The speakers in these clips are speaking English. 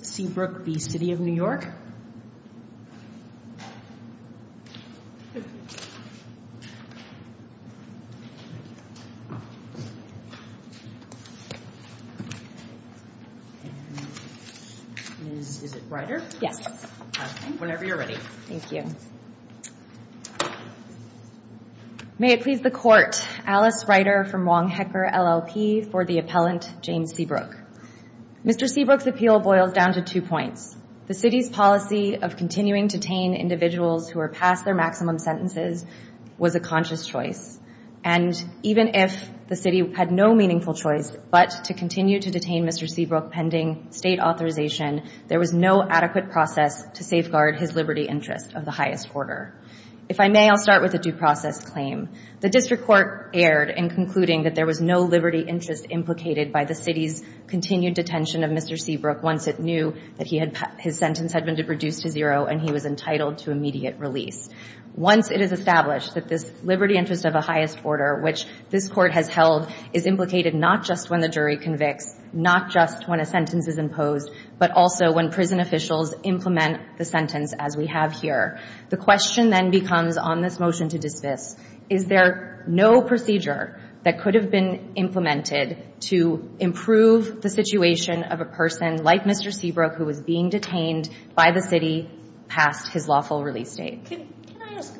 Ms. Seabrook v. City of New York, and Ms. Ryder, whenever you're ready. May it please the Court, Alice Ryder from Wong Hecker, LLP, for the appellant James Seabrook. Mr. Seabrook's appeal boils down to two points. The City's policy of continuing to detain individuals who are past their maximum sentences was a conscious choice, and even if the City had no meaningful choice but to continue to detain Mr. Seabrook pending State authorization, there was no adequate process to safeguard his liberty interest of the highest order. If I may, I'll start with a due process claim. The District Court erred in concluding that there was no liberty interest implicated by the City's continued detention of Mr. Seabrook once it knew that his sentence had been reduced to zero and he was entitled to immediate release. Once it is established that this liberty interest of the highest order, which this Court has held, is implicated not just when the jury convicts, not just when a sentence is imposed, but also when prison officials implement the sentence as we have here, the question then becomes on this motion to dismiss, is there no procedure that could have been implemented to improve the situation of a person like Mr. Seabrook who was being detained by the City past his lawful release date? Can I ask,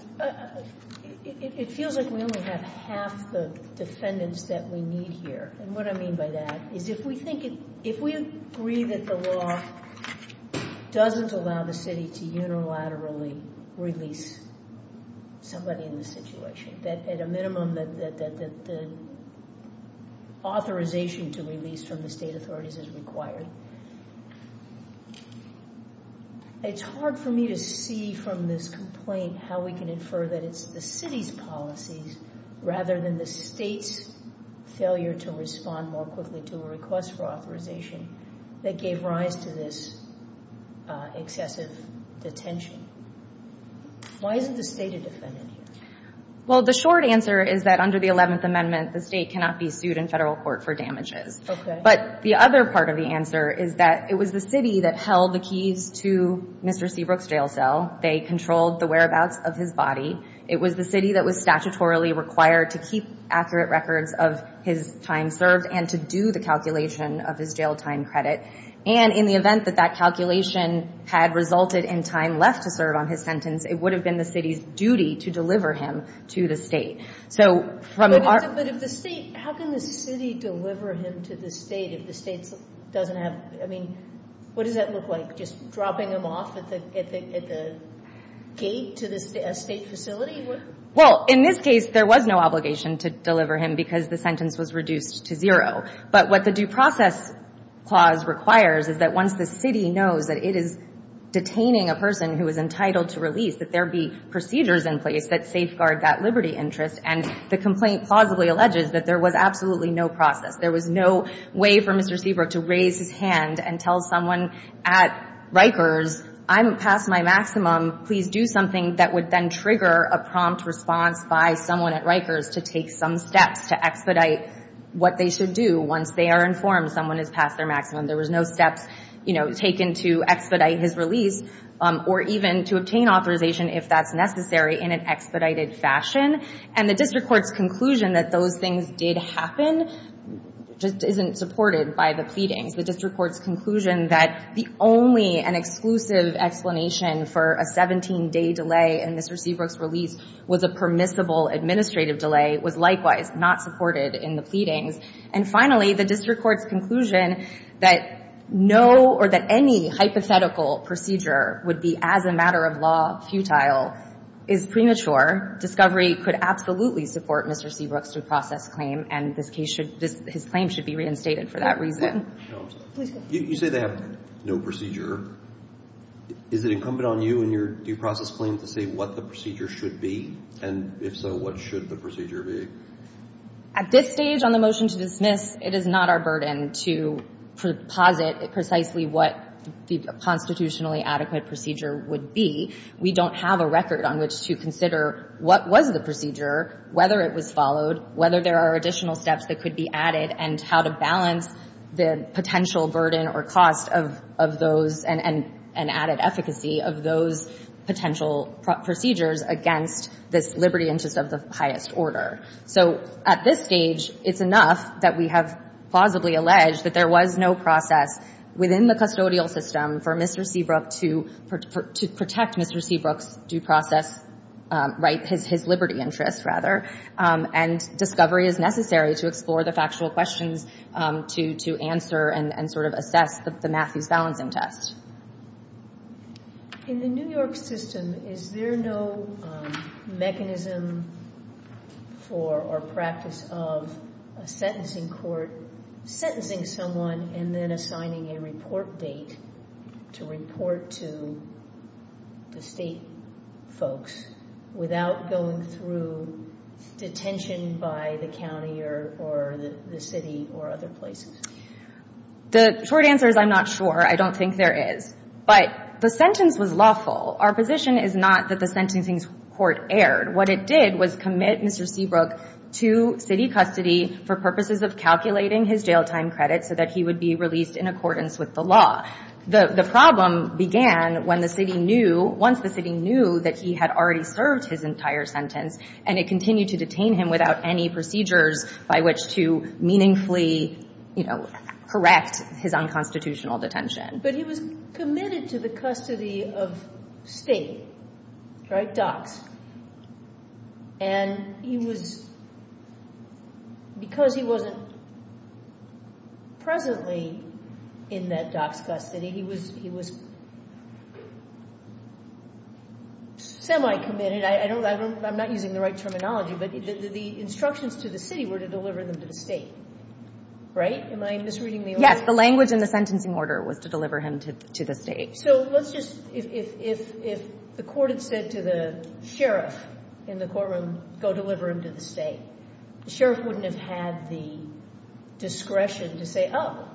it feels like we only have half the defendants that we need here, and what I mean by that is if we think, if we agree that the law doesn't allow the City to unilaterally release somebody in this situation, that at a minimum that the authorization to release from the State authorities is required, it's hard for me to see from this complaint how we can infer that it's the City's policies rather than the State's failure to respond more quickly to a request for authorization that gave rise to this excessive detention. Why isn't the State a defendant here? Well, the short answer is that under the 11th Amendment, the State cannot be sued in federal court for damages, but the other part of the answer is that it was the City that held the keys to Mr. Seabrook's jail cell. They controlled the whereabouts of his body. It was the City that was statutorily required to keep accurate records of his time served and to do the calculation of his jail time credit, and in the event that that calculation had resulted in time left to serve on his sentence, it would have been the City's duty to deliver him to the State. But how can the City deliver him to the State if the State doesn't have, I mean, what does that look like, just dropping him off at the gate to a State facility? Well, in this case, there was no obligation to deliver him because the sentence was reduced to zero, but what the Due Process Clause requires is that once the City knows that it is detaining a person who is entitled to release, that there be procedures in place that safeguard that liberty interest, and the complaint plausibly alleges that there was absolutely no process. There was no way for Mr. Seabrook to raise his hand and tell someone at Rikers, I'm past my maximum, please do something that would then trigger a prompt response by someone at Rikers to take some steps to expedite what they should do once they are informed someone is past their maximum. There was no steps, you know, taken to expedite his release or even to obtain authorization if that's necessary in an expedited fashion. And the District Court's conclusion that those things did happen just isn't supported by the pleadings. The District Court's conclusion that the only and exclusive explanation for a 17-day delay in Mr. Seabrook's release was a permissible administrative delay was likewise not supported in the pleadings. And finally, the District Court's conclusion that no or that any hypothetical procedure would be as a matter of law futile is premature. Discovery could absolutely support Mr. Seabrook's due process claim, and this case should – his claim should be reinstated for that reason. You say they have no procedure. Is it incumbent on you and your due process claim to say what the procedure should be? And if so, what should the procedure be? At this stage on the motion to dismiss, it is not our burden to proposit precisely what the constitutionally adequate procedure would be. We don't have a record on which to consider what was the procedure, whether it was followed, whether there are additional steps that could be added, and how to balance the potential burden or cost of those and added efficacy of those potential procedures against this liberty interest of the highest order. So at this stage, it's enough that we have plausibly alleged that there was no process within the custodial system for Mr. Seabrook to protect Mr. Seabrook's due process, right, his liberty interest, rather. And discovery is necessary to explore the factual questions to answer and sort of assess the Matthews balancing test. In the New York system, is there no mechanism for or practice of a sentencing court sentencing someone and then assigning a report date to report to the state folks without going through detention by the county or the city or other places? The short answer is I'm not sure. I don't think there is. But the sentence was lawful. Our position is not that the sentencing court erred. What it did was commit Mr. Seabrook to city custody for purposes of calculating his jail time credit so that he would be released in accordance with the law. The problem began when the city knew, once the city knew that he had already served his entire sentence, and it continued to detain him without any procedures by which to meaningfully, you know, correct his unconstitutional detention. But he was committed to the custody of state, right, DOCS. And he was, because he wasn't presently in that DOCS custody, he was semi-committed. I'm not using the right terminology, but the instructions to the city were to deliver him to the state, right? Am I misreading the order? Yes. The language in the sentencing order was to deliver him to the state. So let's just, if the court had said to the sheriff in the courtroom, go deliver him to the state, the sheriff wouldn't have had the discretion to say, oh,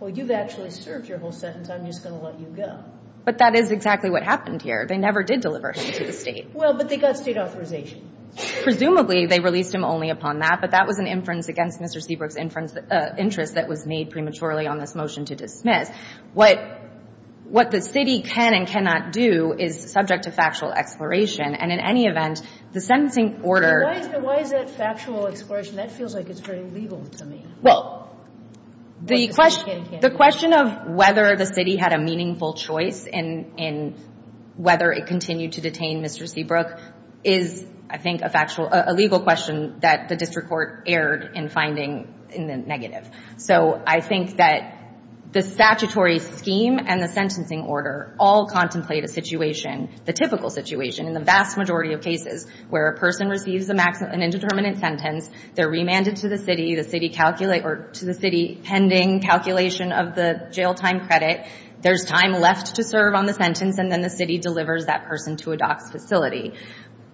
well, you've actually served your whole sentence. I'm just going to let you go. But that is exactly what happened here. They never did deliver him to the state. Well, but they got state authorization. Presumably, they released him only upon that. But that was an inference against Mr. Seabrook's interest that was made prematurely on this motion to dismiss. What the city can and cannot do is subject to factual exploration. And in any event, the sentencing order — Why is that factual exploration? That feels like it's very legal to me. Well, the question of whether the city had a meaningful choice in whether it continued to detain Mr. Seabrook is, I think, a factual — a legal question that the district court erred in finding in the negative. So I think that the statutory scheme and the sentencing order all contemplate a situation, the typical situation in the vast majority of cases where a person receives an indeterminate sentence, they're remanded to the city, the city calculates — or to the city pending calculation of the jail time credit, there's time left to serve on the sentence, and then the city delivers that person to a DOCS facility.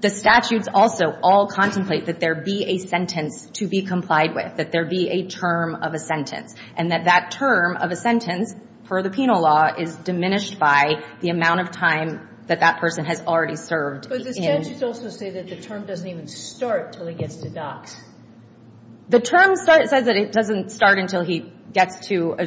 The statutes also all contemplate that there be a sentence to be complied with, that there be a term of a sentence, and that that term of a sentence, per the penal law, is diminished by the amount of time that that person has already served in — But the statutes also say that the term doesn't even start until he gets to DOCS. The term says that it doesn't start until he gets to a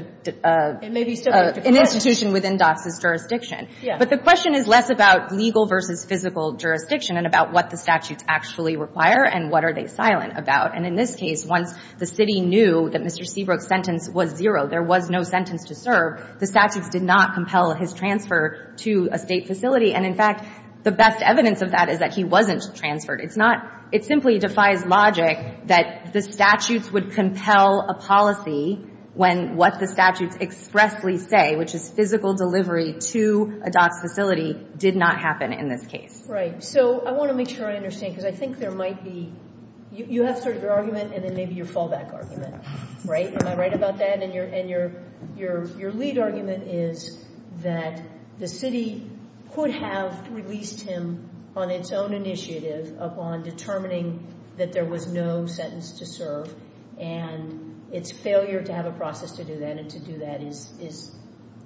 — It may be still — An institution within DOCS's jurisdiction. Yeah. But the question is less about legal versus physical jurisdiction and about what the statutes actually require and what are they silent about. And in this case, once the city knew that Mr. Seabrook's sentence was zero, there was no sentence to serve, the statutes did not compel his transfer to a State facility. And, in fact, the best evidence of that is that he wasn't transferred. It's not — it simply defies logic that the statutes would compel a policy when what the statutes expressly say, which is physical delivery to a DOCS facility, did not happen in this case. Right. So I want to make sure I understand, because I think there might be — You have sort of your argument and then maybe your fallback argument, right? Am I right about that? And your — and your — your — your lead argument is that the city could have released him on its own initiative upon determining that there was no sentence to serve and its failure to have a process to do that and to do that is — is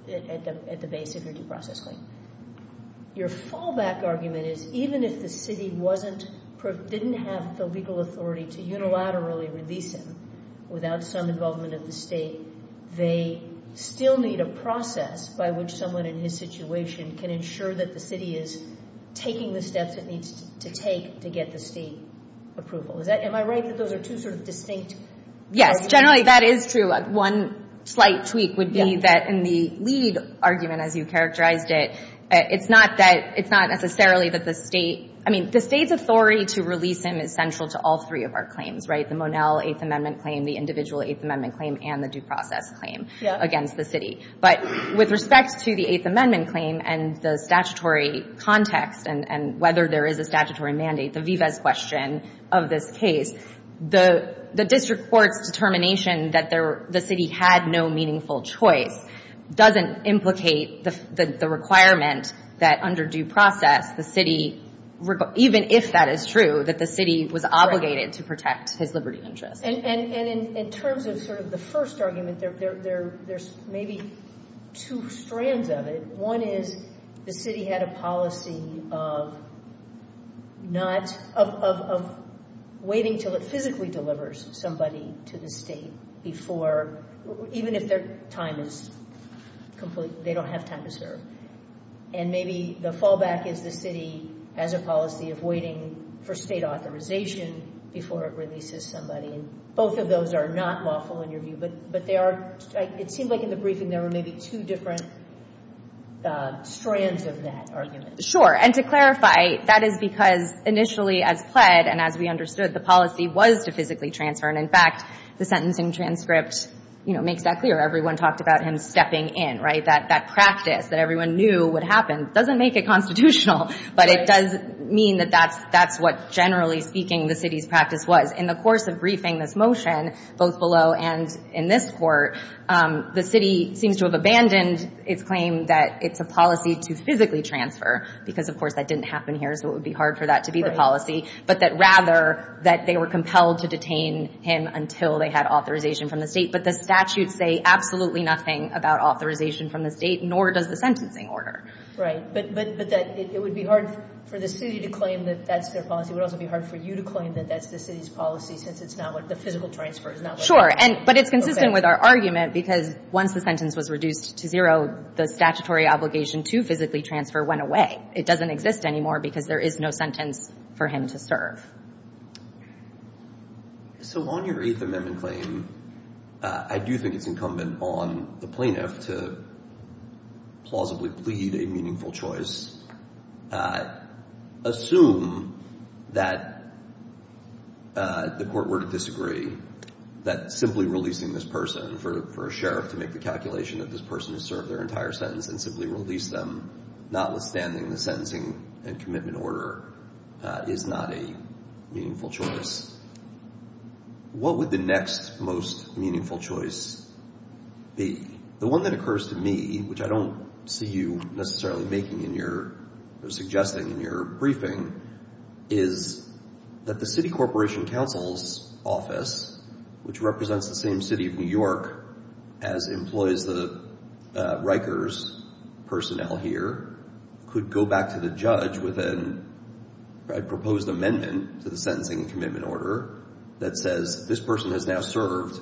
at the base of your due process claim. Your fallback argument is even if the city wasn't — didn't have the legal authority to unilaterally release him without some involvement of the State, they still need a process by which someone in his situation can ensure that the city is taking the steps it needs to take to get the State approval. Is that — am I right that those are two sort of distinct — Yes. Generally, that is true. One slight tweak would be that in the lead argument, as you characterized it, it's not that — it's not necessarily that the State — I mean, the State's authority to release him is central to all three of our claims, right? The Monell Eighth Amendment claim, the individual Eighth Amendment claim, and the due process claim against the city. But with respect to the Eighth Amendment claim and the statutory context and — and the statutory mandate, the vives question of this case, the district court's determination that the city had no meaningful choice doesn't implicate the requirement that under due process the city — even if that is true, that the city was obligated to protect his liberty of interest. And in terms of sort of the first argument, there's maybe two strands of it. One is the city had a policy of not — of waiting until it physically delivers somebody to the State before — even if their time is complete, they don't have time to serve. And maybe the fallback is the city has a policy of waiting for State authorization before it releases somebody. And both of those are not lawful in your view. But they are — it seems like in the briefing there were maybe two different strands of that argument. Sure. And to clarify, that is because initially as pled and as we understood, the policy was to physically transfer. And in fact, the sentencing transcript, you know, makes that clear. Everyone talked about him stepping in, right? That — that practice that everyone knew would happen doesn't make it constitutional, but it does mean that that's — that's what generally speaking the city's practice was. In the course of briefing this motion, both below and in this court, the city seems to have abandoned its claim that it's a policy to physically transfer, because of course that didn't happen here, so it would be hard for that to be the policy. But that rather that they were compelled to detain him until they had authorization from the State. But the statutes say absolutely nothing about authorization from the State, nor does the sentencing order. Right. But — but that it would be hard for the city to claim that that's their policy. It would also be hard for you to claim that that's the city's policy, since it's not what — the physical transfer is not — Sure. And — but it's consistent with our argument, because once the sentence was reduced to zero, the statutory obligation to physically transfer went away. It doesn't exist anymore, because there is no sentence for him to serve. So on your Eighth Amendment claim, I do think it's incumbent on the plaintiff to plausibly plead a meaningful choice. Assume that the court were to disagree, that simply releasing this person for a sheriff to make the calculation that this person has served their entire sentence and simply release them, notwithstanding the sentencing and commitment order, is not a meaningful choice. What would the next most meaningful choice be? The one that occurs to me, which I don't see you necessarily making in your — or suggesting in your briefing, is that the city corporation counsel's office, which represents the same city of New York as employs the Rikers personnel here, could go back to the judge with a proposed amendment to the sentencing and commitment order that says this person has now served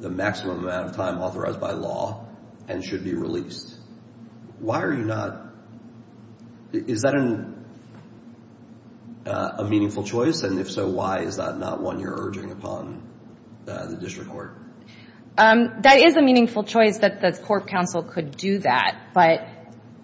the maximum amount of time authorized by law and should be released. Why are you not — is that a meaningful choice? And if so, why is that not one you're urging upon the district court? That is a meaningful choice, that the court counsel could do that. But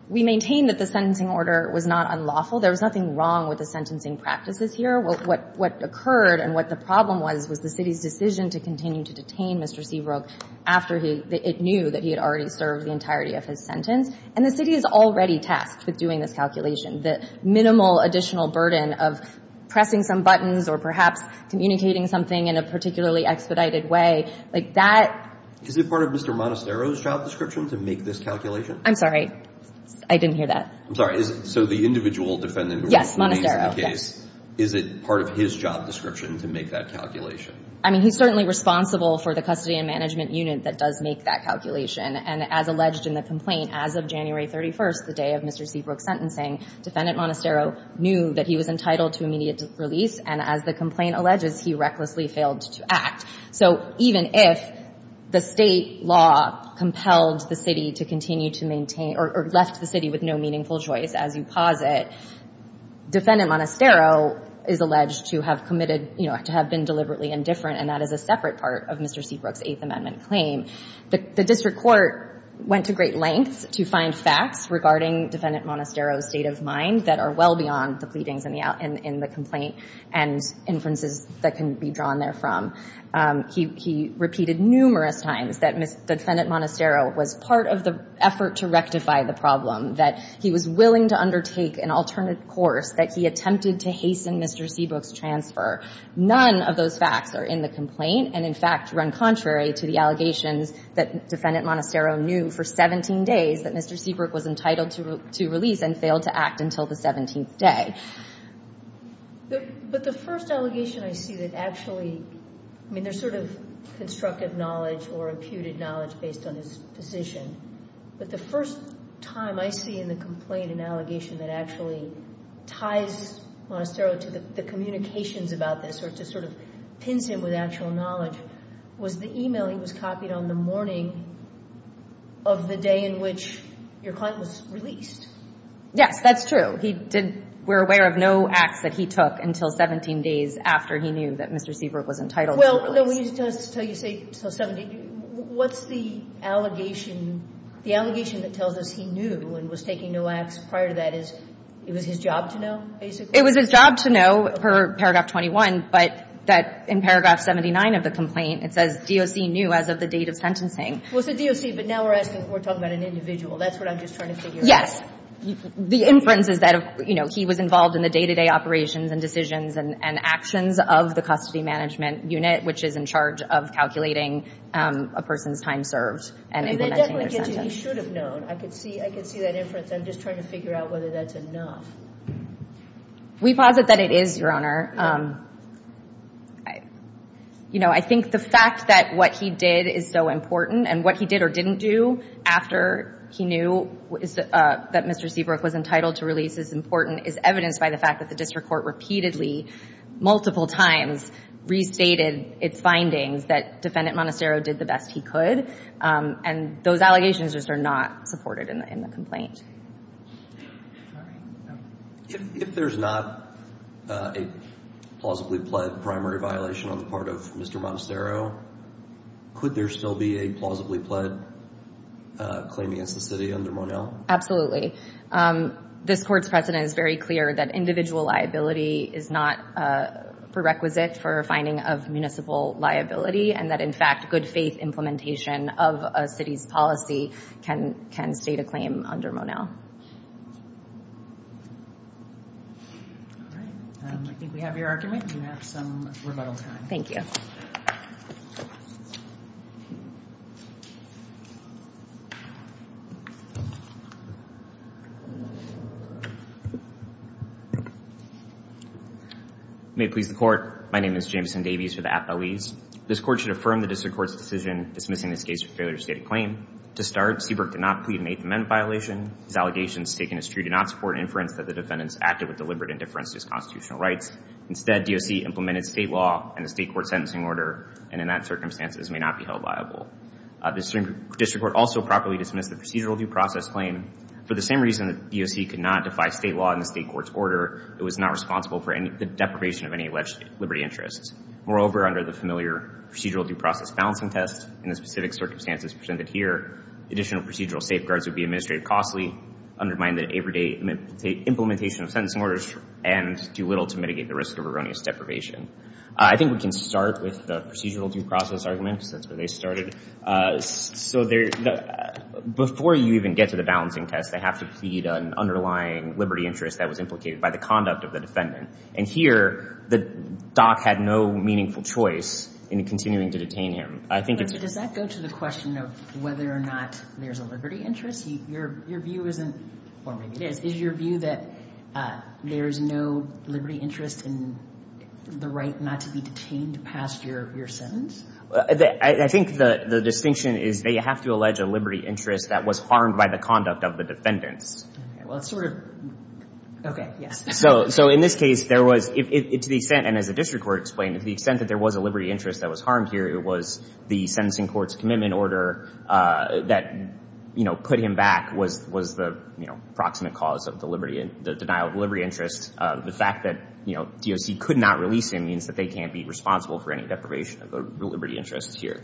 we maintain that the sentencing order was not unlawful. There was nothing wrong with the sentencing practices here. What occurred and what the problem was, was the city's decision to continue to detain Mr. Seabrook after it knew that he had already served the entirety of his sentence. And the city is already tasked with doing this calculation. The minimal additional burden of pressing some buttons or perhaps communicating something in a particularly expedited way, like that — Is it part of Mr. Monastero's trial description to make this calculation? I'm sorry. I didn't hear that. I'm sorry. So the individual defendant — Yes, Monastero. Is it part of his job description to make that calculation? I mean, he's certainly responsible for the custody and management unit that does make that calculation. And as alleged in the complaint, as of January 31st, the day of Mr. Seabrook's sentencing, Defendant Monastero knew that he was entitled to immediate release. And as the complaint alleges, he recklessly failed to act. So even if the state law compelled the city to continue to maintain — or left the city with no meaningful choice, as you posit, Defendant Monastero is alleged to have committed — you know, to have been deliberately indifferent. And that is a separate part of Mr. Seabrook's Eighth Amendment claim. The district court went to great lengths to find facts regarding Defendant Monastero's state of mind that are well beyond the pleadings in the complaint and inferences that can be drawn therefrom. He repeated numerous times that Defendant Monastero was part of the effort to rectify the problem, that he was willing to undertake an alternate course, that he attempted to hasten Mr. Seabrook's transfer. None of those facts are in the complaint and, in fact, run contrary to the allegations that Defendant Monastero knew for 17 days that Mr. Seabrook was entitled to release and failed to act until the 17th day. But the first allegation I see that actually — I mean, there's sort of constructive knowledge or imputed knowledge based on his position. But the first time I see in the complaint an allegation that actually ties Monastero to the communications about this or to sort of pince him with actual knowledge was the e-mail he was copied on the morning of the day in which your client was released. Yes, that's true. He did — we're aware of no acts that he took until 17 days after he knew that Mr. Seabrook was entitled to release. Well, let me just tell you something. What's the allegation? The allegation that tells us he knew and was taking no acts prior to that is it was his job to know, basically? It was his job to know per paragraph 21, but that in paragraph 79 of the complaint, it says DOC knew as of the date of sentencing. Well, it's the DOC, but now we're asking — we're talking about an individual. That's what I'm just trying to figure out. Yes. The inference is that, you know, he was involved in the day-to-day operations and decisions and actions of the custody management unit, which is in charge of calculating a person's time served and implementing their sentence. And it definitely gets to he should have known. I could see that inference. I'm just trying to figure out whether that's enough. We posit that it is, Your Honor. You know, I think the fact that what he did is so important and what he did or didn't do after he knew that Mr. Seabrook was entitled to release is important is evidenced by the fact that the district court repeatedly, multiple times, restated its findings that Defendant Monastero did the best he could. And those allegations just are not supported in the complaint. If there's not a plausibly pled primary violation on the part of Mr. Monastero, could there still be a plausibly pled claim against the city under Monell? Absolutely. This court's precedent is very clear that individual liability is not prerequisite for finding of municipal liability and that, in fact, good faith implementation of a city's policy can state a claim under Monell. All right. I think we have your argument. You have some rebuttal time. Thank you. May it please the court. My name is Jameson Davies for the Appellees. This court should affirm the district court's decision dismissing this case for failure to state a claim. To start, Seabrook did not plead an eighth amendment violation. His allegations taken as true do not support inference that the defendants acted with deliberate indifference to his constitutional rights. Instead, DOC implemented state law and a state court sentencing order, and in that circumstances may not be held liable. The district court also properly dismissed the procedural due process claim. For the same reason that DOC could not defy state law in the state court's order, it was not responsible for the deprivation of any alleged liberty interests. Moreover, under the familiar procedural due process balancing test and the specific circumstances presented here, additional procedural safeguards would be administrated costly, undermine the implementation of sentencing orders, and do little to mitigate the risk of erroneous deprivation. I think we can start with the procedural due process arguments. That's where they started. So before you even get to the balancing test, they have to plead an underlying liberty interest that was implicated by the conduct of the defendant. And here, the DOC had no meaningful choice in continuing to detain him. I think it's— But does that go to the question of whether or not there's a liberty interest? Your view isn't—or maybe it is. Is your view that there's no liberty interest in the right not to be detained past your sentence? I think the distinction is they have to allege a liberty interest that was harmed by the conduct of the defendants. Well, it's sort of—okay, yes. So in this case, there was—to the extent, and as the district court explained, to the extent that there was a liberty interest that was harmed here, it was the sentencing court's commitment order that, you know, put him back was the, you know, proximate cause of the liberty—the denial of liberty interest. The fact that, you know, DOC could not release him means that they can't be responsible for any deprivation of the liberty interest here.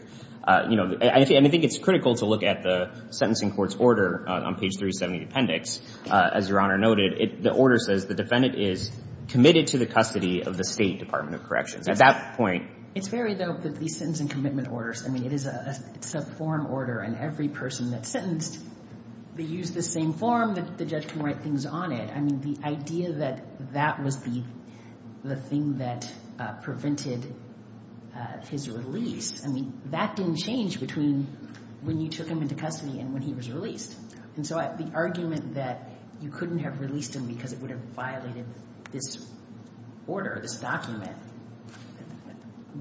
You know, and I think it's critical to look at the sentencing court's order on page 370 of the appendix. As Your Honor noted, the order says the defendant is committed to the custody of the State Department of Corrections. At that point— It's very dope that these sentencing commitment orders—I mean, it is a subform order, and every person that's sentenced, they use the same form that the judge can write things on it. I mean, the idea that that was the thing that prevented his release, I mean, that didn't change between when you took him into custody and when he was released. And so the argument that you couldn't have released him because it would have violated this order, this document,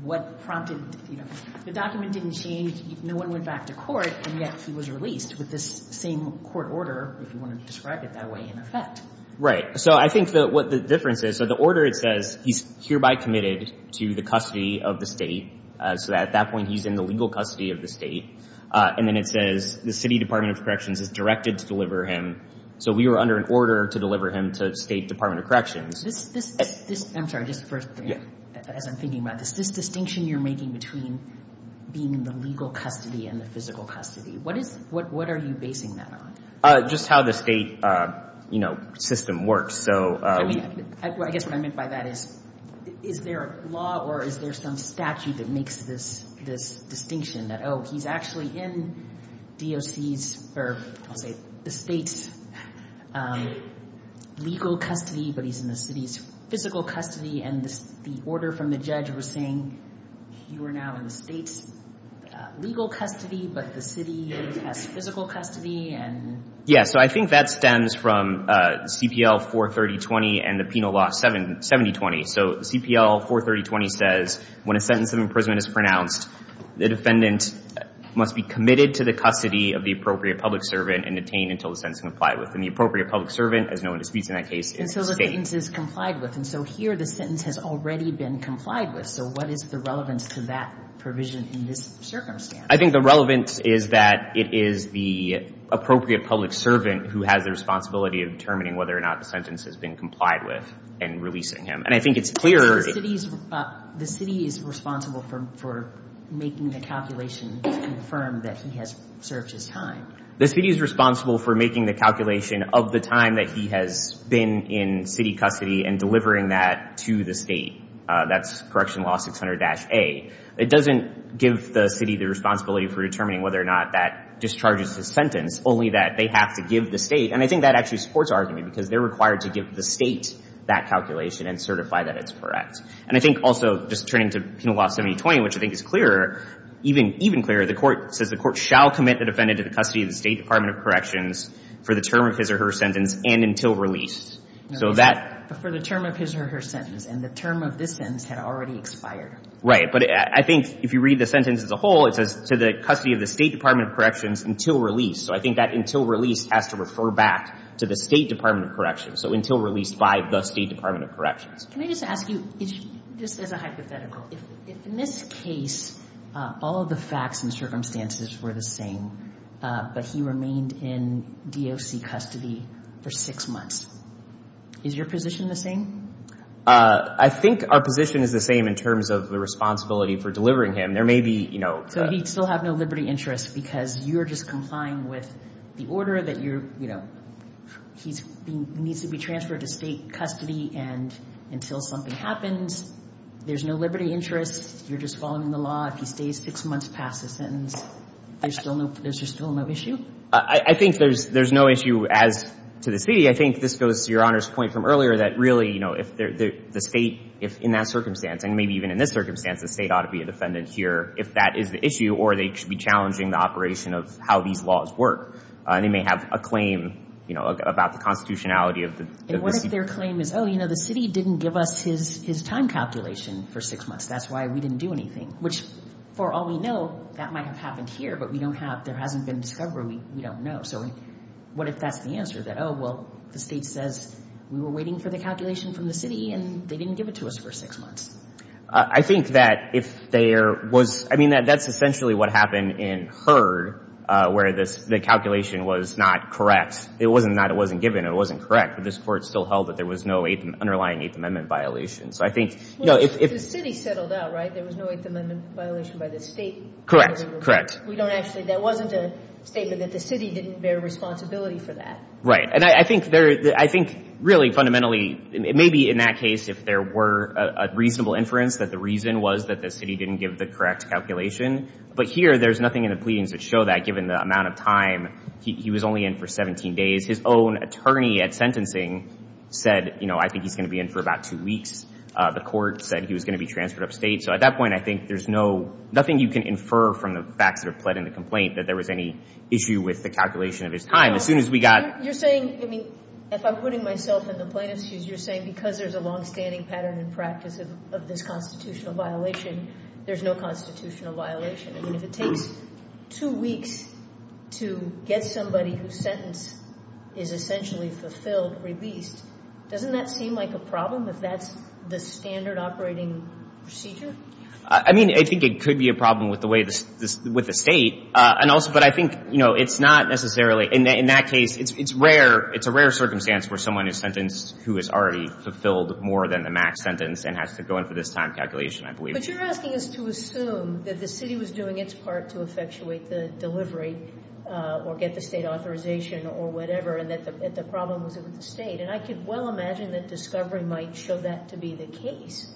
what prompted—the document didn't change. No one went back to court, and yet he was released with this same court order, if you want to describe it that way, in effect. Right. So I think that what the difference is—so the order, it says he's hereby committed to the custody of the State. So at that point, he's in the legal custody of the State. And then it says the City Department of Corrections is directed to deliver him. So we were under an order to deliver him to the State Department of Corrections. I'm sorry, just first, as I'm thinking about this, this distinction you're making between being in the legal custody and the physical custody, what is—what are you basing that on? Just how the State, you know, system works. I mean, I guess what I meant by that is, is there a law or is there some statute that makes this distinction, that, oh, he's actually in DOC's—or I'll say the State's legal custody, but he's in the City's physical custody, and the order from the judge was saying you are now in the State's legal custody, but the City has physical custody, and— Yeah, so I think that stems from CPL 43020 and the penal law 7020. So CPL 43020 says, when a sentence of imprisonment is pronounced, the defendant must be committed to the custody of the appropriate public servant and detained until the sentence is complied with. And the appropriate public servant, as no one disputes in that case, is the State. And so the sentence is complied with. And so here the sentence has already been complied with. So what is the relevance to that provision in this circumstance? I think the relevance is that it is the appropriate public servant who has the responsibility of determining whether or not the sentence has been complied with and releasing him. And I think it's clear— The City is responsible for making the calculation to confirm that he has served his time. The City is responsible for making the calculation of the time that he has been in City custody and delivering that to the State. That's Correctional Law 600-A. It doesn't give the City the responsibility for determining whether or not that discharges his sentence, only that they have to give the State. And I think that actually supports our argument, because they're required to give the State that calculation and certify that it's correct. And I think also, just turning to Penal Law 7020, which I think is clearer, even clearer, the Court says the Court shall commit the defendant to the custody of the State Department of Corrections for the term of his or her sentence and until release. So that— For the term of his or her sentence. And the term of this sentence had already expired. Right. But I think if you read the sentence as a whole, it says, to the custody of the State Department of Corrections until release. So I think that until release has to refer back to the State Department of Corrections. So until release by the State Department of Corrections. Can I just ask you, just as a hypothetical, if in this case all of the facts and circumstances were the same, but he remained in DOC custody for six months, is your position the same? I think our position is the same in terms of the responsibility for delivering him. There may be, you know— But he'd still have no liberty interest because you're just complying with the order that you're, you know, he needs to be transferred to State custody and until something happens, there's no liberty interest. You're just following the law. If he stays six months past the sentence, there's still no issue? I think there's no issue as to the City. I think this goes to Your Honor's point from earlier that really, you know, if the State, if in that circumstance, and maybe even in this circumstance, the State ought to be a defendant here if that is the issue or they should be challenging the operation of how these laws work. They may have a claim, you know, about the constitutionality of the— And what if their claim is, oh, you know, the City didn't give us his time calculation for six months. That's why we didn't do anything, which for all we know, that might have happened here, but we don't have—there hasn't been discovery. We don't know. So what if that's the answer that, oh, well, the State says we were waiting for the calculation from the City and they didn't give it to us for six months? I think that if there was—I mean, that's essentially what happened in Heard where the calculation was not correct. It wasn't not—it wasn't given. It wasn't correct, but this Court still held that there was no underlying Eighth Amendment violation. So I think, you know, if— Well, if the City settled out, right, there was no Eighth Amendment violation by the State. Correct. Correct. We don't actually—that wasn't a statement that the City didn't bear responsibility for that. Right. And I think there—I think really fundamentally, maybe in that case if there were a reasonable inference that the reason was that the City didn't give the correct calculation, but here there's nothing in the pleadings that show that given the amount of time. He was only in for 17 days. His own attorney at sentencing said, you know, I think he's going to be in for about two weeks. The Court said he was going to be transferred upstate. So at that point, I think there's no—nothing you can infer from the facts that are pled in the complaint that there was any issue with the calculation of his time. As soon as we got— You're saying—I mean, if I'm putting myself in the plaintiff's shoes, you're saying because there's a longstanding pattern and practice of this constitutional violation, there's no constitutional violation. I mean, if it takes two weeks to get somebody whose sentence is essentially fulfilled, released, doesn't that seem like a problem if that's the standard operating procedure? I mean, I think it could be a problem with the way—with the State. And also—but I think, you know, it's not necessarily—in that case, it's rare. It's a rare circumstance where someone is sentenced who is already fulfilled more than the max sentence and has to go in for this time calculation, I believe. But you're asking us to assume that the City was doing its part to effectuate the delivery or get the State authorization or whatever, and that the problem was with the State. And I could well imagine that discovery might show that to be the case.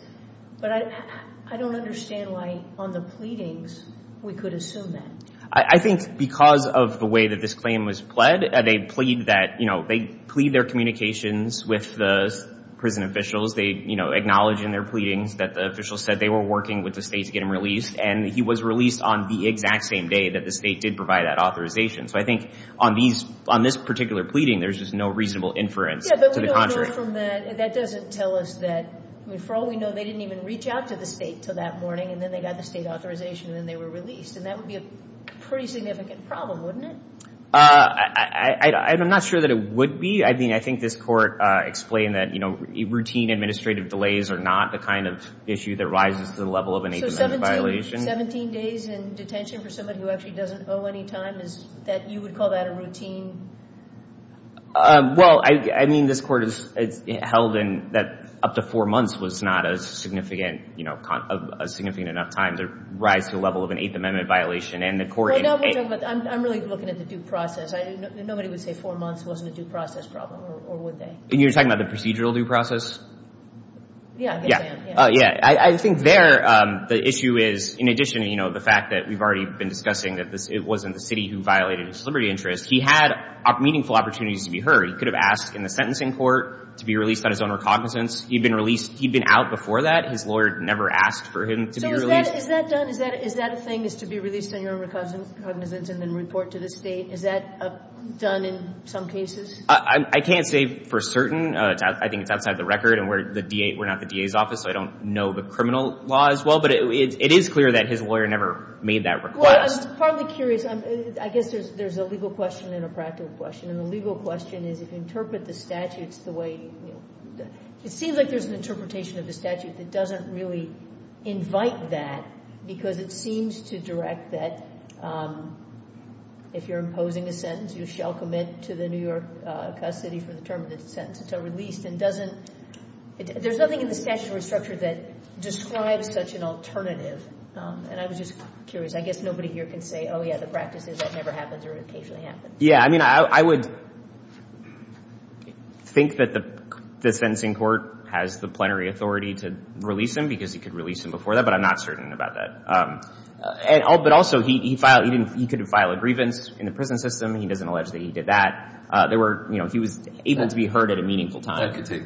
But I don't understand why on the pleadings we could assume that. I think because of the way that this claim was pled, they plead that—you know, they plead their communications with the prison officials. They, you know, acknowledge in their pleadings that the officials said they were working with the State to get him released, and he was released on the exact same day that the State did provide that authorization. So I think on these—on this particular pleading, there's just no reasonable inference to the contrary. Apart from that, that doesn't tell us that—I mean, for all we know, they didn't even reach out to the State until that morning, and then they got the State authorization, and then they were released. And that would be a pretty significant problem, wouldn't it? I'm not sure that it would be. I mean, I think this Court explained that, you know, routine administrative delays are not the kind of issue that rises to the level of an 8-to-9 violation. So 17 days in detention for somebody who actually doesn't owe any time, you would call that a routine— Well, I mean, this Court has held that up to four months was not a significant, you know, a significant enough time to rise to the level of an 8th Amendment violation. And the Court— I'm really looking at the due process. Nobody would say four months wasn't a due process problem, or would they? You're talking about the procedural due process? Yeah, I think so, yeah. Yeah, I think there, the issue is, in addition, you know, the fact that we've already been discussing that it wasn't the City who violated his liberty interest. He had meaningful opportunities to be heard. He could have asked in the sentencing court to be released on his own recognizance. He'd been released—he'd been out before that. His lawyer never asked for him to be released. So is that done? Is that a thing, is to be released on your own recognizance and then report to the State? Is that done in some cases? I can't say for certain. I think it's outside the record, and we're not the DA's office, so I don't know the criminal law as well. But it is clear that his lawyer never made that request. Well, I'm partly curious. I guess there's a legal question and a practical question, and the legal question is if you interpret the statutes the way— it seems like there's an interpretation of the statute that doesn't really invite that because it seems to direct that if you're imposing a sentence, you shall commit to the New York custody for the term of the sentence until released, and doesn't—there's nothing in the statutory structure that describes such an alternative. And I was just curious. I guess nobody here can say, oh, yeah, the practice is that never happens or occasionally happens. Yeah. I mean, I would think that the sentencing court has the plenary authority to release him because he could release him before that, but I'm not certain about that. But also, he could have filed a grievance in the prison system. He doesn't allege that he did that. There were—you know, he was able to be heard at a meaningful time. That could take—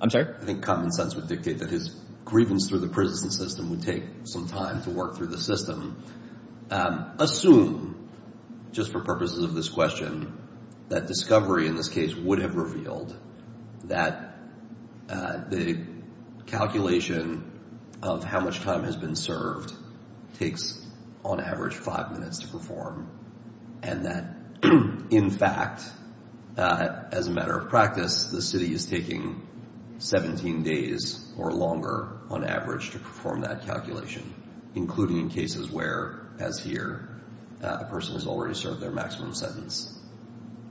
I'm sorry? I think common sense would dictate that his grievance through the prison system would take some time to work through the system. Assume, just for purposes of this question, that discovery in this case would have revealed that the calculation of how much time has been served takes on average five minutes to perform and that, in fact, as a matter of practice, the city is taking 17 days or longer, on average, to perform that calculation, including in cases where, as here, a person has already served their maximum sentence.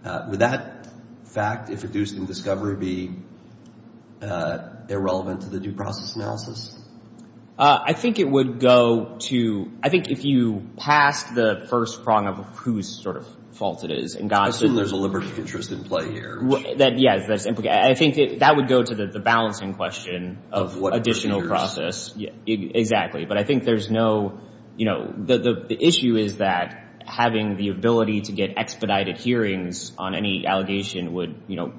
Would that fact, if reduced in discovery, be irrelevant to the due process analysis? I think it would go to—I think if you passed the first prong of whose sort of fault it is and got— I assume there's a liberty of interest in play here. Yes. I think that would go to the balancing question of additional process. But I think there's no—you know, the issue is that having the ability to get expedited hearings on any allegation would, you know,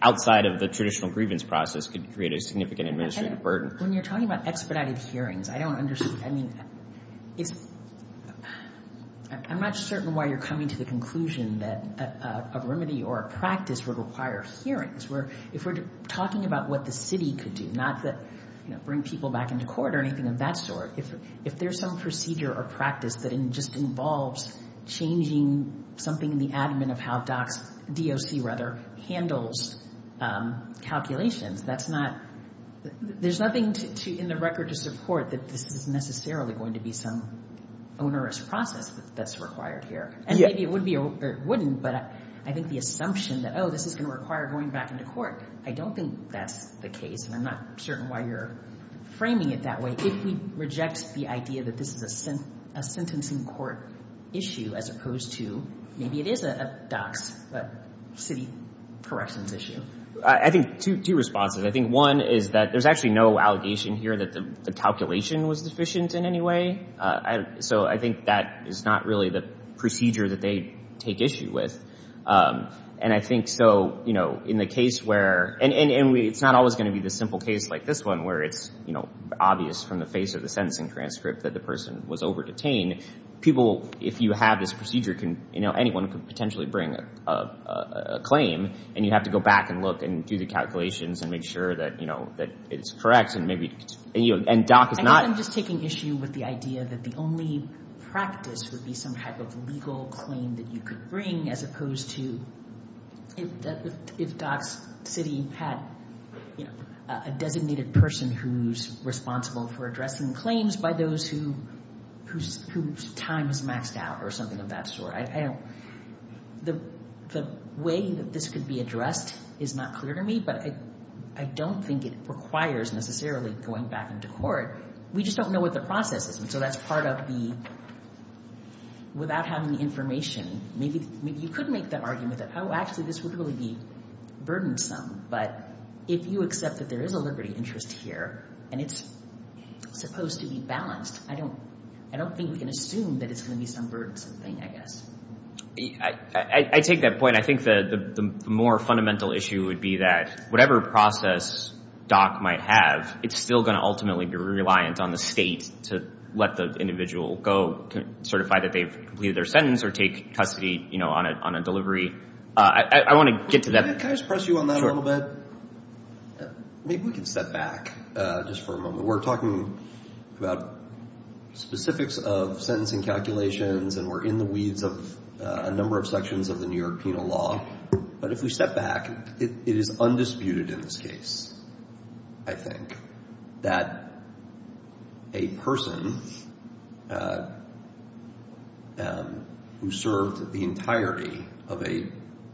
outside of the traditional grievance process, could create a significant administrative burden. When you're talking about expedited hearings, I don't understand. I mean, it's—I'm not certain why you're coming to the conclusion that a remedy or a practice would require hearings. If we're talking about what the city could do, not that, you know, bring people back into court or anything of that sort, if there's some procedure or practice that just involves changing something in the admin of how DOC handles calculations, that's not— There's nothing in the record to support that this is necessarily going to be some onerous process that's required here. And maybe it would be or it wouldn't, but I think the assumption that, oh, this is going to require going back into court, I don't think that's the case, and I'm not certain why you're framing it that way. If we reject the idea that this is a sentencing court issue as opposed to, maybe it is a DOC's city corrections issue. I think two responses. I think one is that there's actually no allegation here that the calculation was deficient in any way. So I think that is not really the procedure that they take issue with. And I think so, you know, in the case where— and it's not always going to be the simple case like this one where it's, you know, obvious from the face of the sentencing transcript that the person was over-detained. People, if you have this procedure, anyone could potentially bring a claim, and you have to go back and look and do the calculations and make sure that, you know, that it's correct. And, you know, DOC is not— I think I'm just taking issue with the idea that the only practice would be some type of legal claim that you could bring as opposed to if DOC's city had, you know, a designated person who's responsible for addressing claims by those whose time is maxed out or something of that sort. I don't—the way that this could be addressed is not clear to me, but I don't think it requires necessarily going back into court. We just don't know what the process is. And so that's part of the—without having the information, maybe you could make the argument that, oh, actually, this would really be burdensome. But if you accept that there is a liberty interest here and it's supposed to be balanced, I don't think we can assume that it's going to be some burdensome thing, I guess. I take that point. I think the more fundamental issue would be that whatever process DOC might have, it's still going to ultimately be reliant on the state to let the individual go, certify that they've completed their sentence or take custody, you know, on a delivery. I want to get to that. Can I just press you on that a little bit? Maybe we can step back just for a moment. We're talking about specifics of sentencing calculations and we're in the weeds of a number of sections of the New York penal law. But if we step back, it is undisputed in this case, I think, that a person who served the entirety of a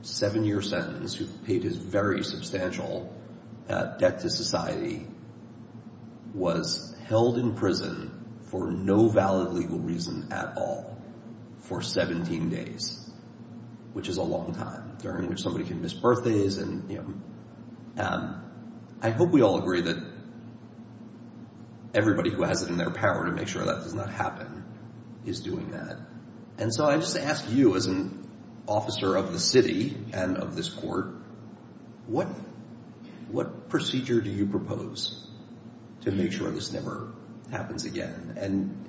seven-year sentence, who paid his very substantial debt to society, was held in prison for no valid legal reason at all for 17 days, which is a long time, during which somebody can miss birthdays. I hope we all agree that everybody who has it in their power to make sure that does not happen is doing that. And so I just ask you, as an officer of the city and of this court, what procedure do you propose to make sure this never happens again? And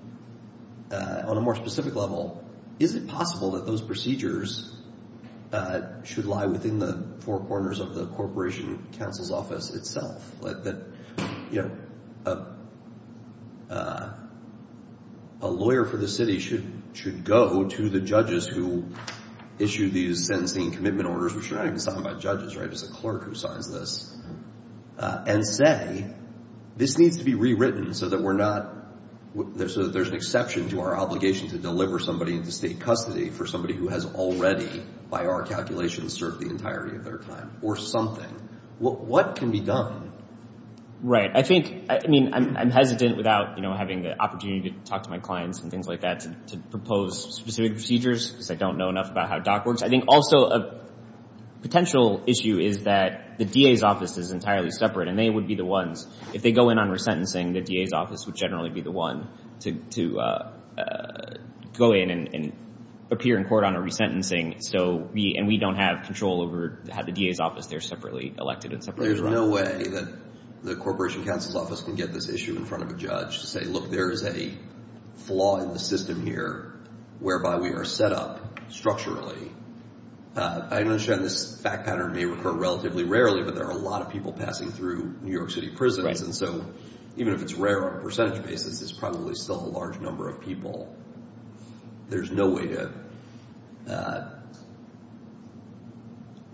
on a more specific level, is it possible that those procedures should lie within the four corners of the corporation counsel's office itself? That a lawyer for the city should go to the judges who issue these sentencing commitment orders, which are not even signed by judges, right? It's a clerk who signs this, and say, this needs to be rewritten so that there's an exception to our obligation to deliver somebody into state custody for somebody who has already, by our calculations, served the entirety of their time, or something. What can be done? Right. I think, I mean, I'm hesitant without, you know, having the opportunity to talk to my clients and things like that to propose specific procedures, because I don't know enough about how DOC works. I think also a potential issue is that the DA's office is entirely separate, and they would be the ones, if they go in on resentencing, the DA's office would generally be the one to go in and appear in court on a resentencing, and we don't have control over how the DA's office, they're separately elected and separately run. There's no way that the Corporation Counsel's office can get this issue in front of a judge to say, look, there is a flaw in the system here, whereby we are set up structurally. I understand this fact pattern may occur relatively rarely, but there are a lot of people passing through New York City prisons, and so even if it's rare on a percentage basis, it's probably still a large number of people. There's no way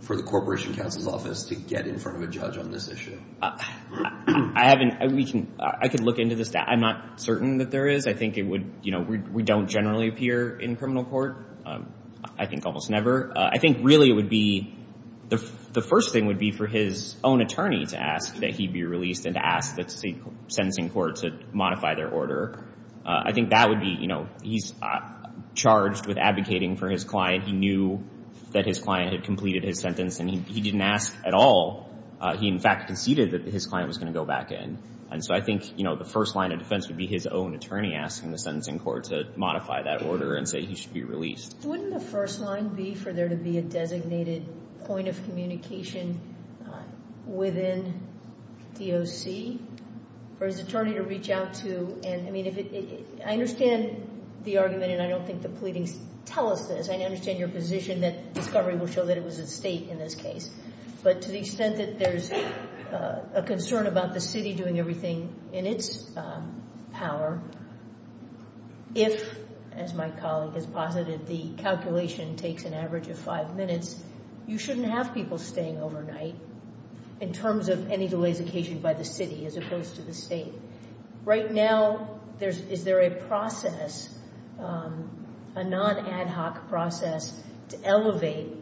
for the Corporation Counsel's office to get in front of a judge on this issue. I could look into this. I'm not certain that there is. I think we don't generally appear in criminal court. I think almost never. I think really it would be, the first thing would be for his own attorney to ask that he be released and to ask the sentencing court to modify their order. I think that would be, you know, he's charged with advocating for his client. He knew that his client had completed his sentence, and he didn't ask at all. He, in fact, conceded that his client was going to go back in. And so I think, you know, the first line of defense would be his own attorney asking the sentencing court to modify that order and say he should be released. Wouldn't the first line be for there to be a designated point of communication within DOC for his attorney to reach out to? And, I mean, I understand the argument, and I don't think the pleadings tell us this. I understand your position that discovery will show that it was a state in this case. But to the extent that there's a concern about the city doing everything in its power, if, as my colleague has posited, the calculation takes an average of five minutes, you shouldn't have people staying overnight in terms of any delays occasioned by the city as opposed to the state. Right now, is there a process, a non-ad hoc process, to elevate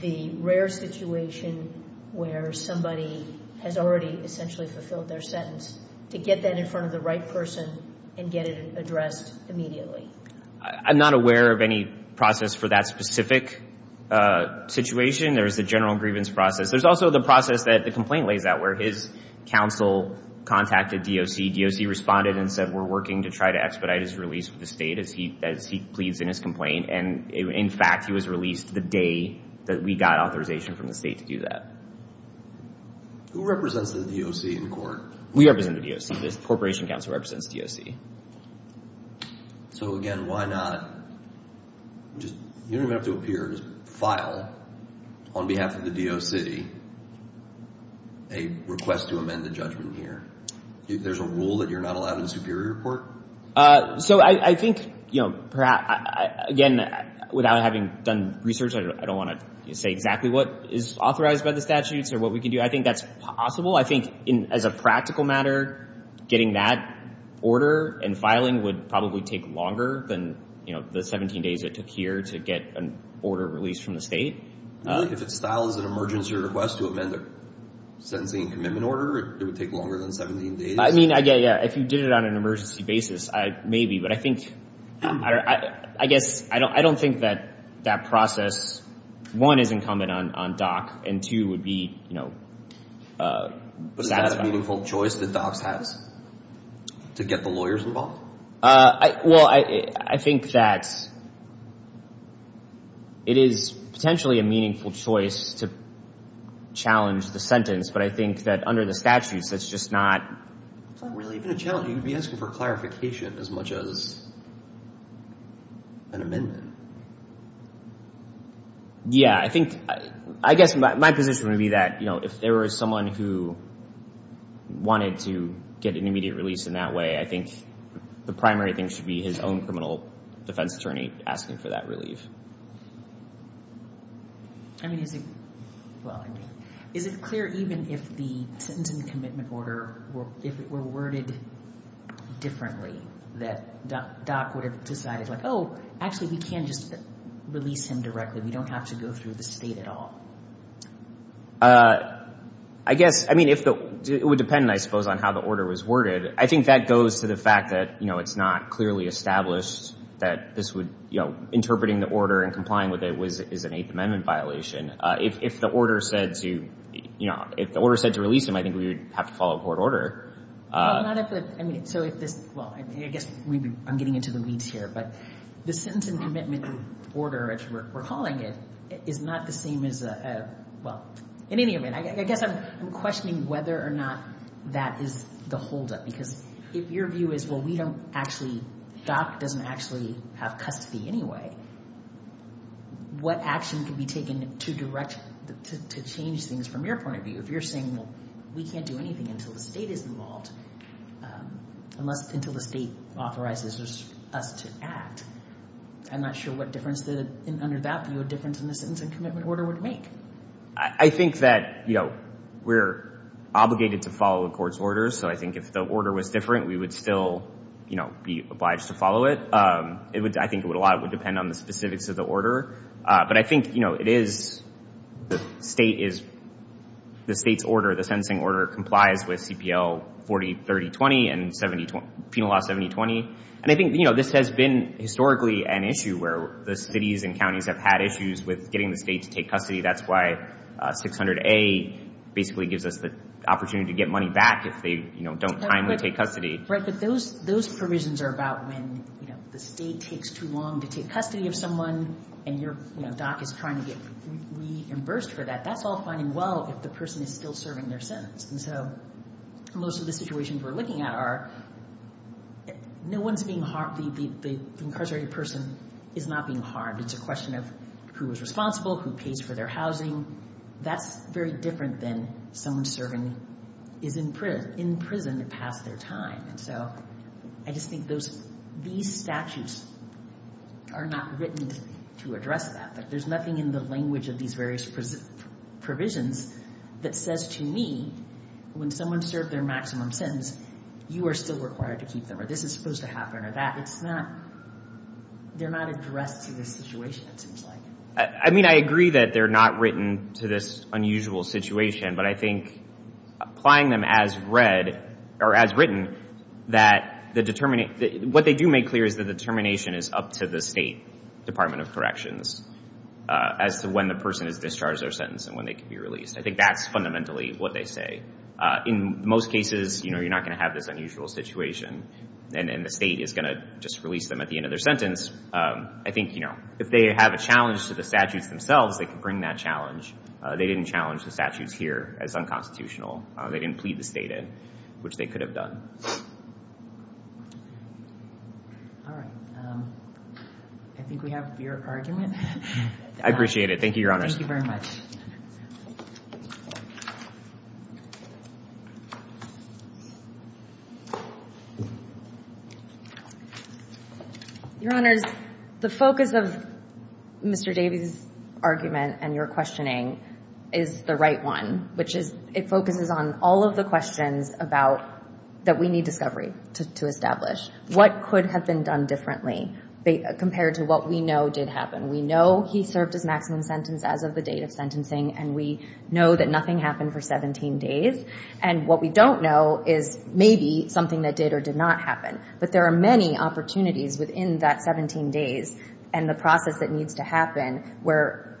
the rare situation where somebody has already essentially fulfilled their sentence to get that in front of the right person and get it addressed immediately? I'm not aware of any process for that specific situation. There is a general grievance process. There's also the process that the complaint lays out where his counsel contacted DOC. DOC responded and said, We're working to try to expedite his release from the state as he pleads in his complaint. And, in fact, he was released the day that we got authorization from the state to do that. Who represents the DOC in court? We represent the DOC. The corporation counsel represents DOC. So, again, why not? You don't even have to appear. Just file, on behalf of the DOC, a request to amend the judgment here. There's a rule that you're not allowed in Superior Court? So I think, again, without having done research, I don't want to say exactly what is authorized by the statutes or what we can do. I think that's possible. I think, as a practical matter, getting that order and filing would probably take longer than the 17 days it took here to get an order released from the state. If it's filed as an emergency request to amend the sentencing and commitment order, it would take longer than 17 days? I mean, yeah, yeah. If you did it on an emergency basis, maybe. But I think, I guess, I don't think that that process, one, is incumbent on DOC, and, two, would be satisfied. But is that a meaningful choice that DOC has to get the lawyers involved? Well, I think that it is potentially a meaningful choice to challenge the sentence, but I think that under the statutes, that's just not really a challenge. You'd be asking for clarification as much as an amendment. Yeah, I think, I guess my position would be that, you know, if there was someone who wanted to get an immediate release in that way, I think the primary thing should be his own criminal defense attorney asking for that relief. I mean, is it, well, is it clear even if the sentencing and commitment order, if it were worded differently, that DOC would have decided, like, oh, actually, we can just release him directly. We don't have to go through the state at all. I guess, I mean, it would depend, I suppose, on how the order was worded. I think that goes to the fact that, you know, it's not clearly established that this would, you know, interpreting the order and complying with it is an Eighth Amendment violation. If the order said to, you know, if the order said to release him, I think we would have to follow court order. Well, not if the, I mean, so if this, well, I guess I'm getting into the weeds here, but the sentence and commitment order, as we're calling it, is not the same as a, well, in any event. I guess I'm questioning whether or not that is the holdup, because if your view is, well, we don't actually, DOC doesn't actually have custody anyway, what action can be taken to change things from your point of view? If you're saying, well, we can't do anything until the state is involved, unless until the state authorizes us to act, I'm not sure what difference under that view a difference in the sentence and commitment order would make. I think that, you know, we're obligated to follow the court's orders. So I think if the order was different, we would still, you know, be obliged to follow it. I think a lot would depend on the specifics of the order. But I think, you know, it is, the state is, the state's order, the sentencing order, complies with CPL 403020 and Penal Law 7020. And I think, you know, this has been historically an issue where the cities and counties have had issues with getting the state to take custody. That's why 600A basically gives us the opportunity to get money back if they, you know, don't timely take custody. Right, but those provisions are about when, you know, the state takes too long to take custody of someone and your, you know, DOC is trying to get reimbursed for that. That's all finding well if the person is still serving their sentence. And so most of the situations we're looking at are no one's being harmed, the incarcerated person is not being harmed. It's a question of who is responsible, who pays for their housing. That's very different than someone serving, is in prison to pass their time. And so I just think those, these statutes are not written to address that. Like there's nothing in the language of these various provisions that says to me when someone served their maximum sentence, you are still required to keep them or this is supposed to happen or that. It's not, they're not addressed to this situation, it seems like. I mean, I agree that they're not written to this unusual situation, but I think applying them as read or as written that the determination, what they do make clear is the determination is up to the state Department of Corrections as to when the person is discharged their sentence and when they can be released. I think that's fundamentally what they say. In most cases, you know, you're not going to have this unusual situation and the state is going to just release them at the end of their sentence. I think, you know, if they have a challenge to the statutes themselves, they can bring that challenge. They didn't challenge the statutes here as unconstitutional. They didn't plead the state in, which they could have done. All right. I think we have your argument. I appreciate it. Thank you, Your Honor. Thank you very much. Your Honors, the focus of Mr. Davies' argument and your questioning is the right one, which is it focuses on all of the questions about that we need discovery to establish. What could have been done differently compared to what we know did happen? We know he served his maximum sentence as of the date of sentencing, and we know that nothing happened for 17 days, and what we don't know is maybe something that did or did not happen. But there are many opportunities within that 17 days and the process that needs to happen where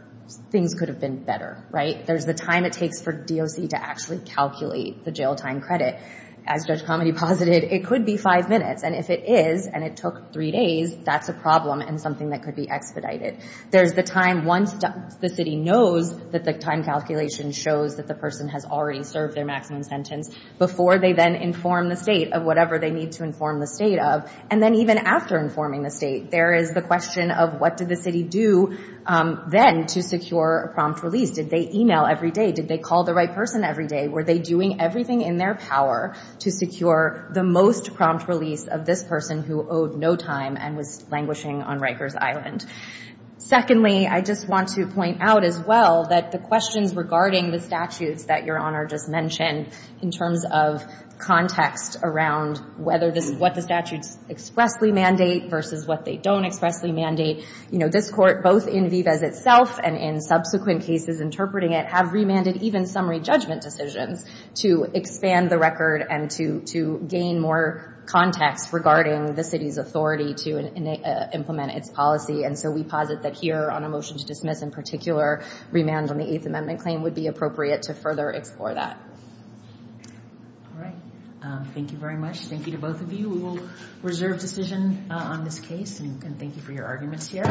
things could have been better, right? There's the time it takes for DOC to actually calculate the jail time credit. As Judge Comedy posited, it could be five minutes, and if it is and it took three days, that's a problem and something that could be expedited. There's the time once the city knows that the time calculation shows that the person has already served their maximum sentence before they then inform the state of whatever they need to inform the state of. And then even after informing the state, there is the question of what did the city do then to secure a prompt release. Did they email every day? Did they call the right person every day? Were they doing everything in their power to secure the most prompt release of this person who owed no time and was languishing on Rikers Island? Secondly, I just want to point out as well that the questions regarding the statutes that Your Honor just mentioned in terms of context around what the statutes expressly mandate versus what they don't expressly mandate, this court, both in Vives itself and in subsequent cases interpreting it, have remanded even summary judgment decisions to expand the record and to gain more context regarding the city's authority to implement its policy. And so we posit that here on a motion to dismiss in particular, remand on the Eighth Amendment claim would be appropriate to further explore that. All right. Thank you very much. Thank you to both of you. We will reserve decision on this case. And thank you for your arguments here.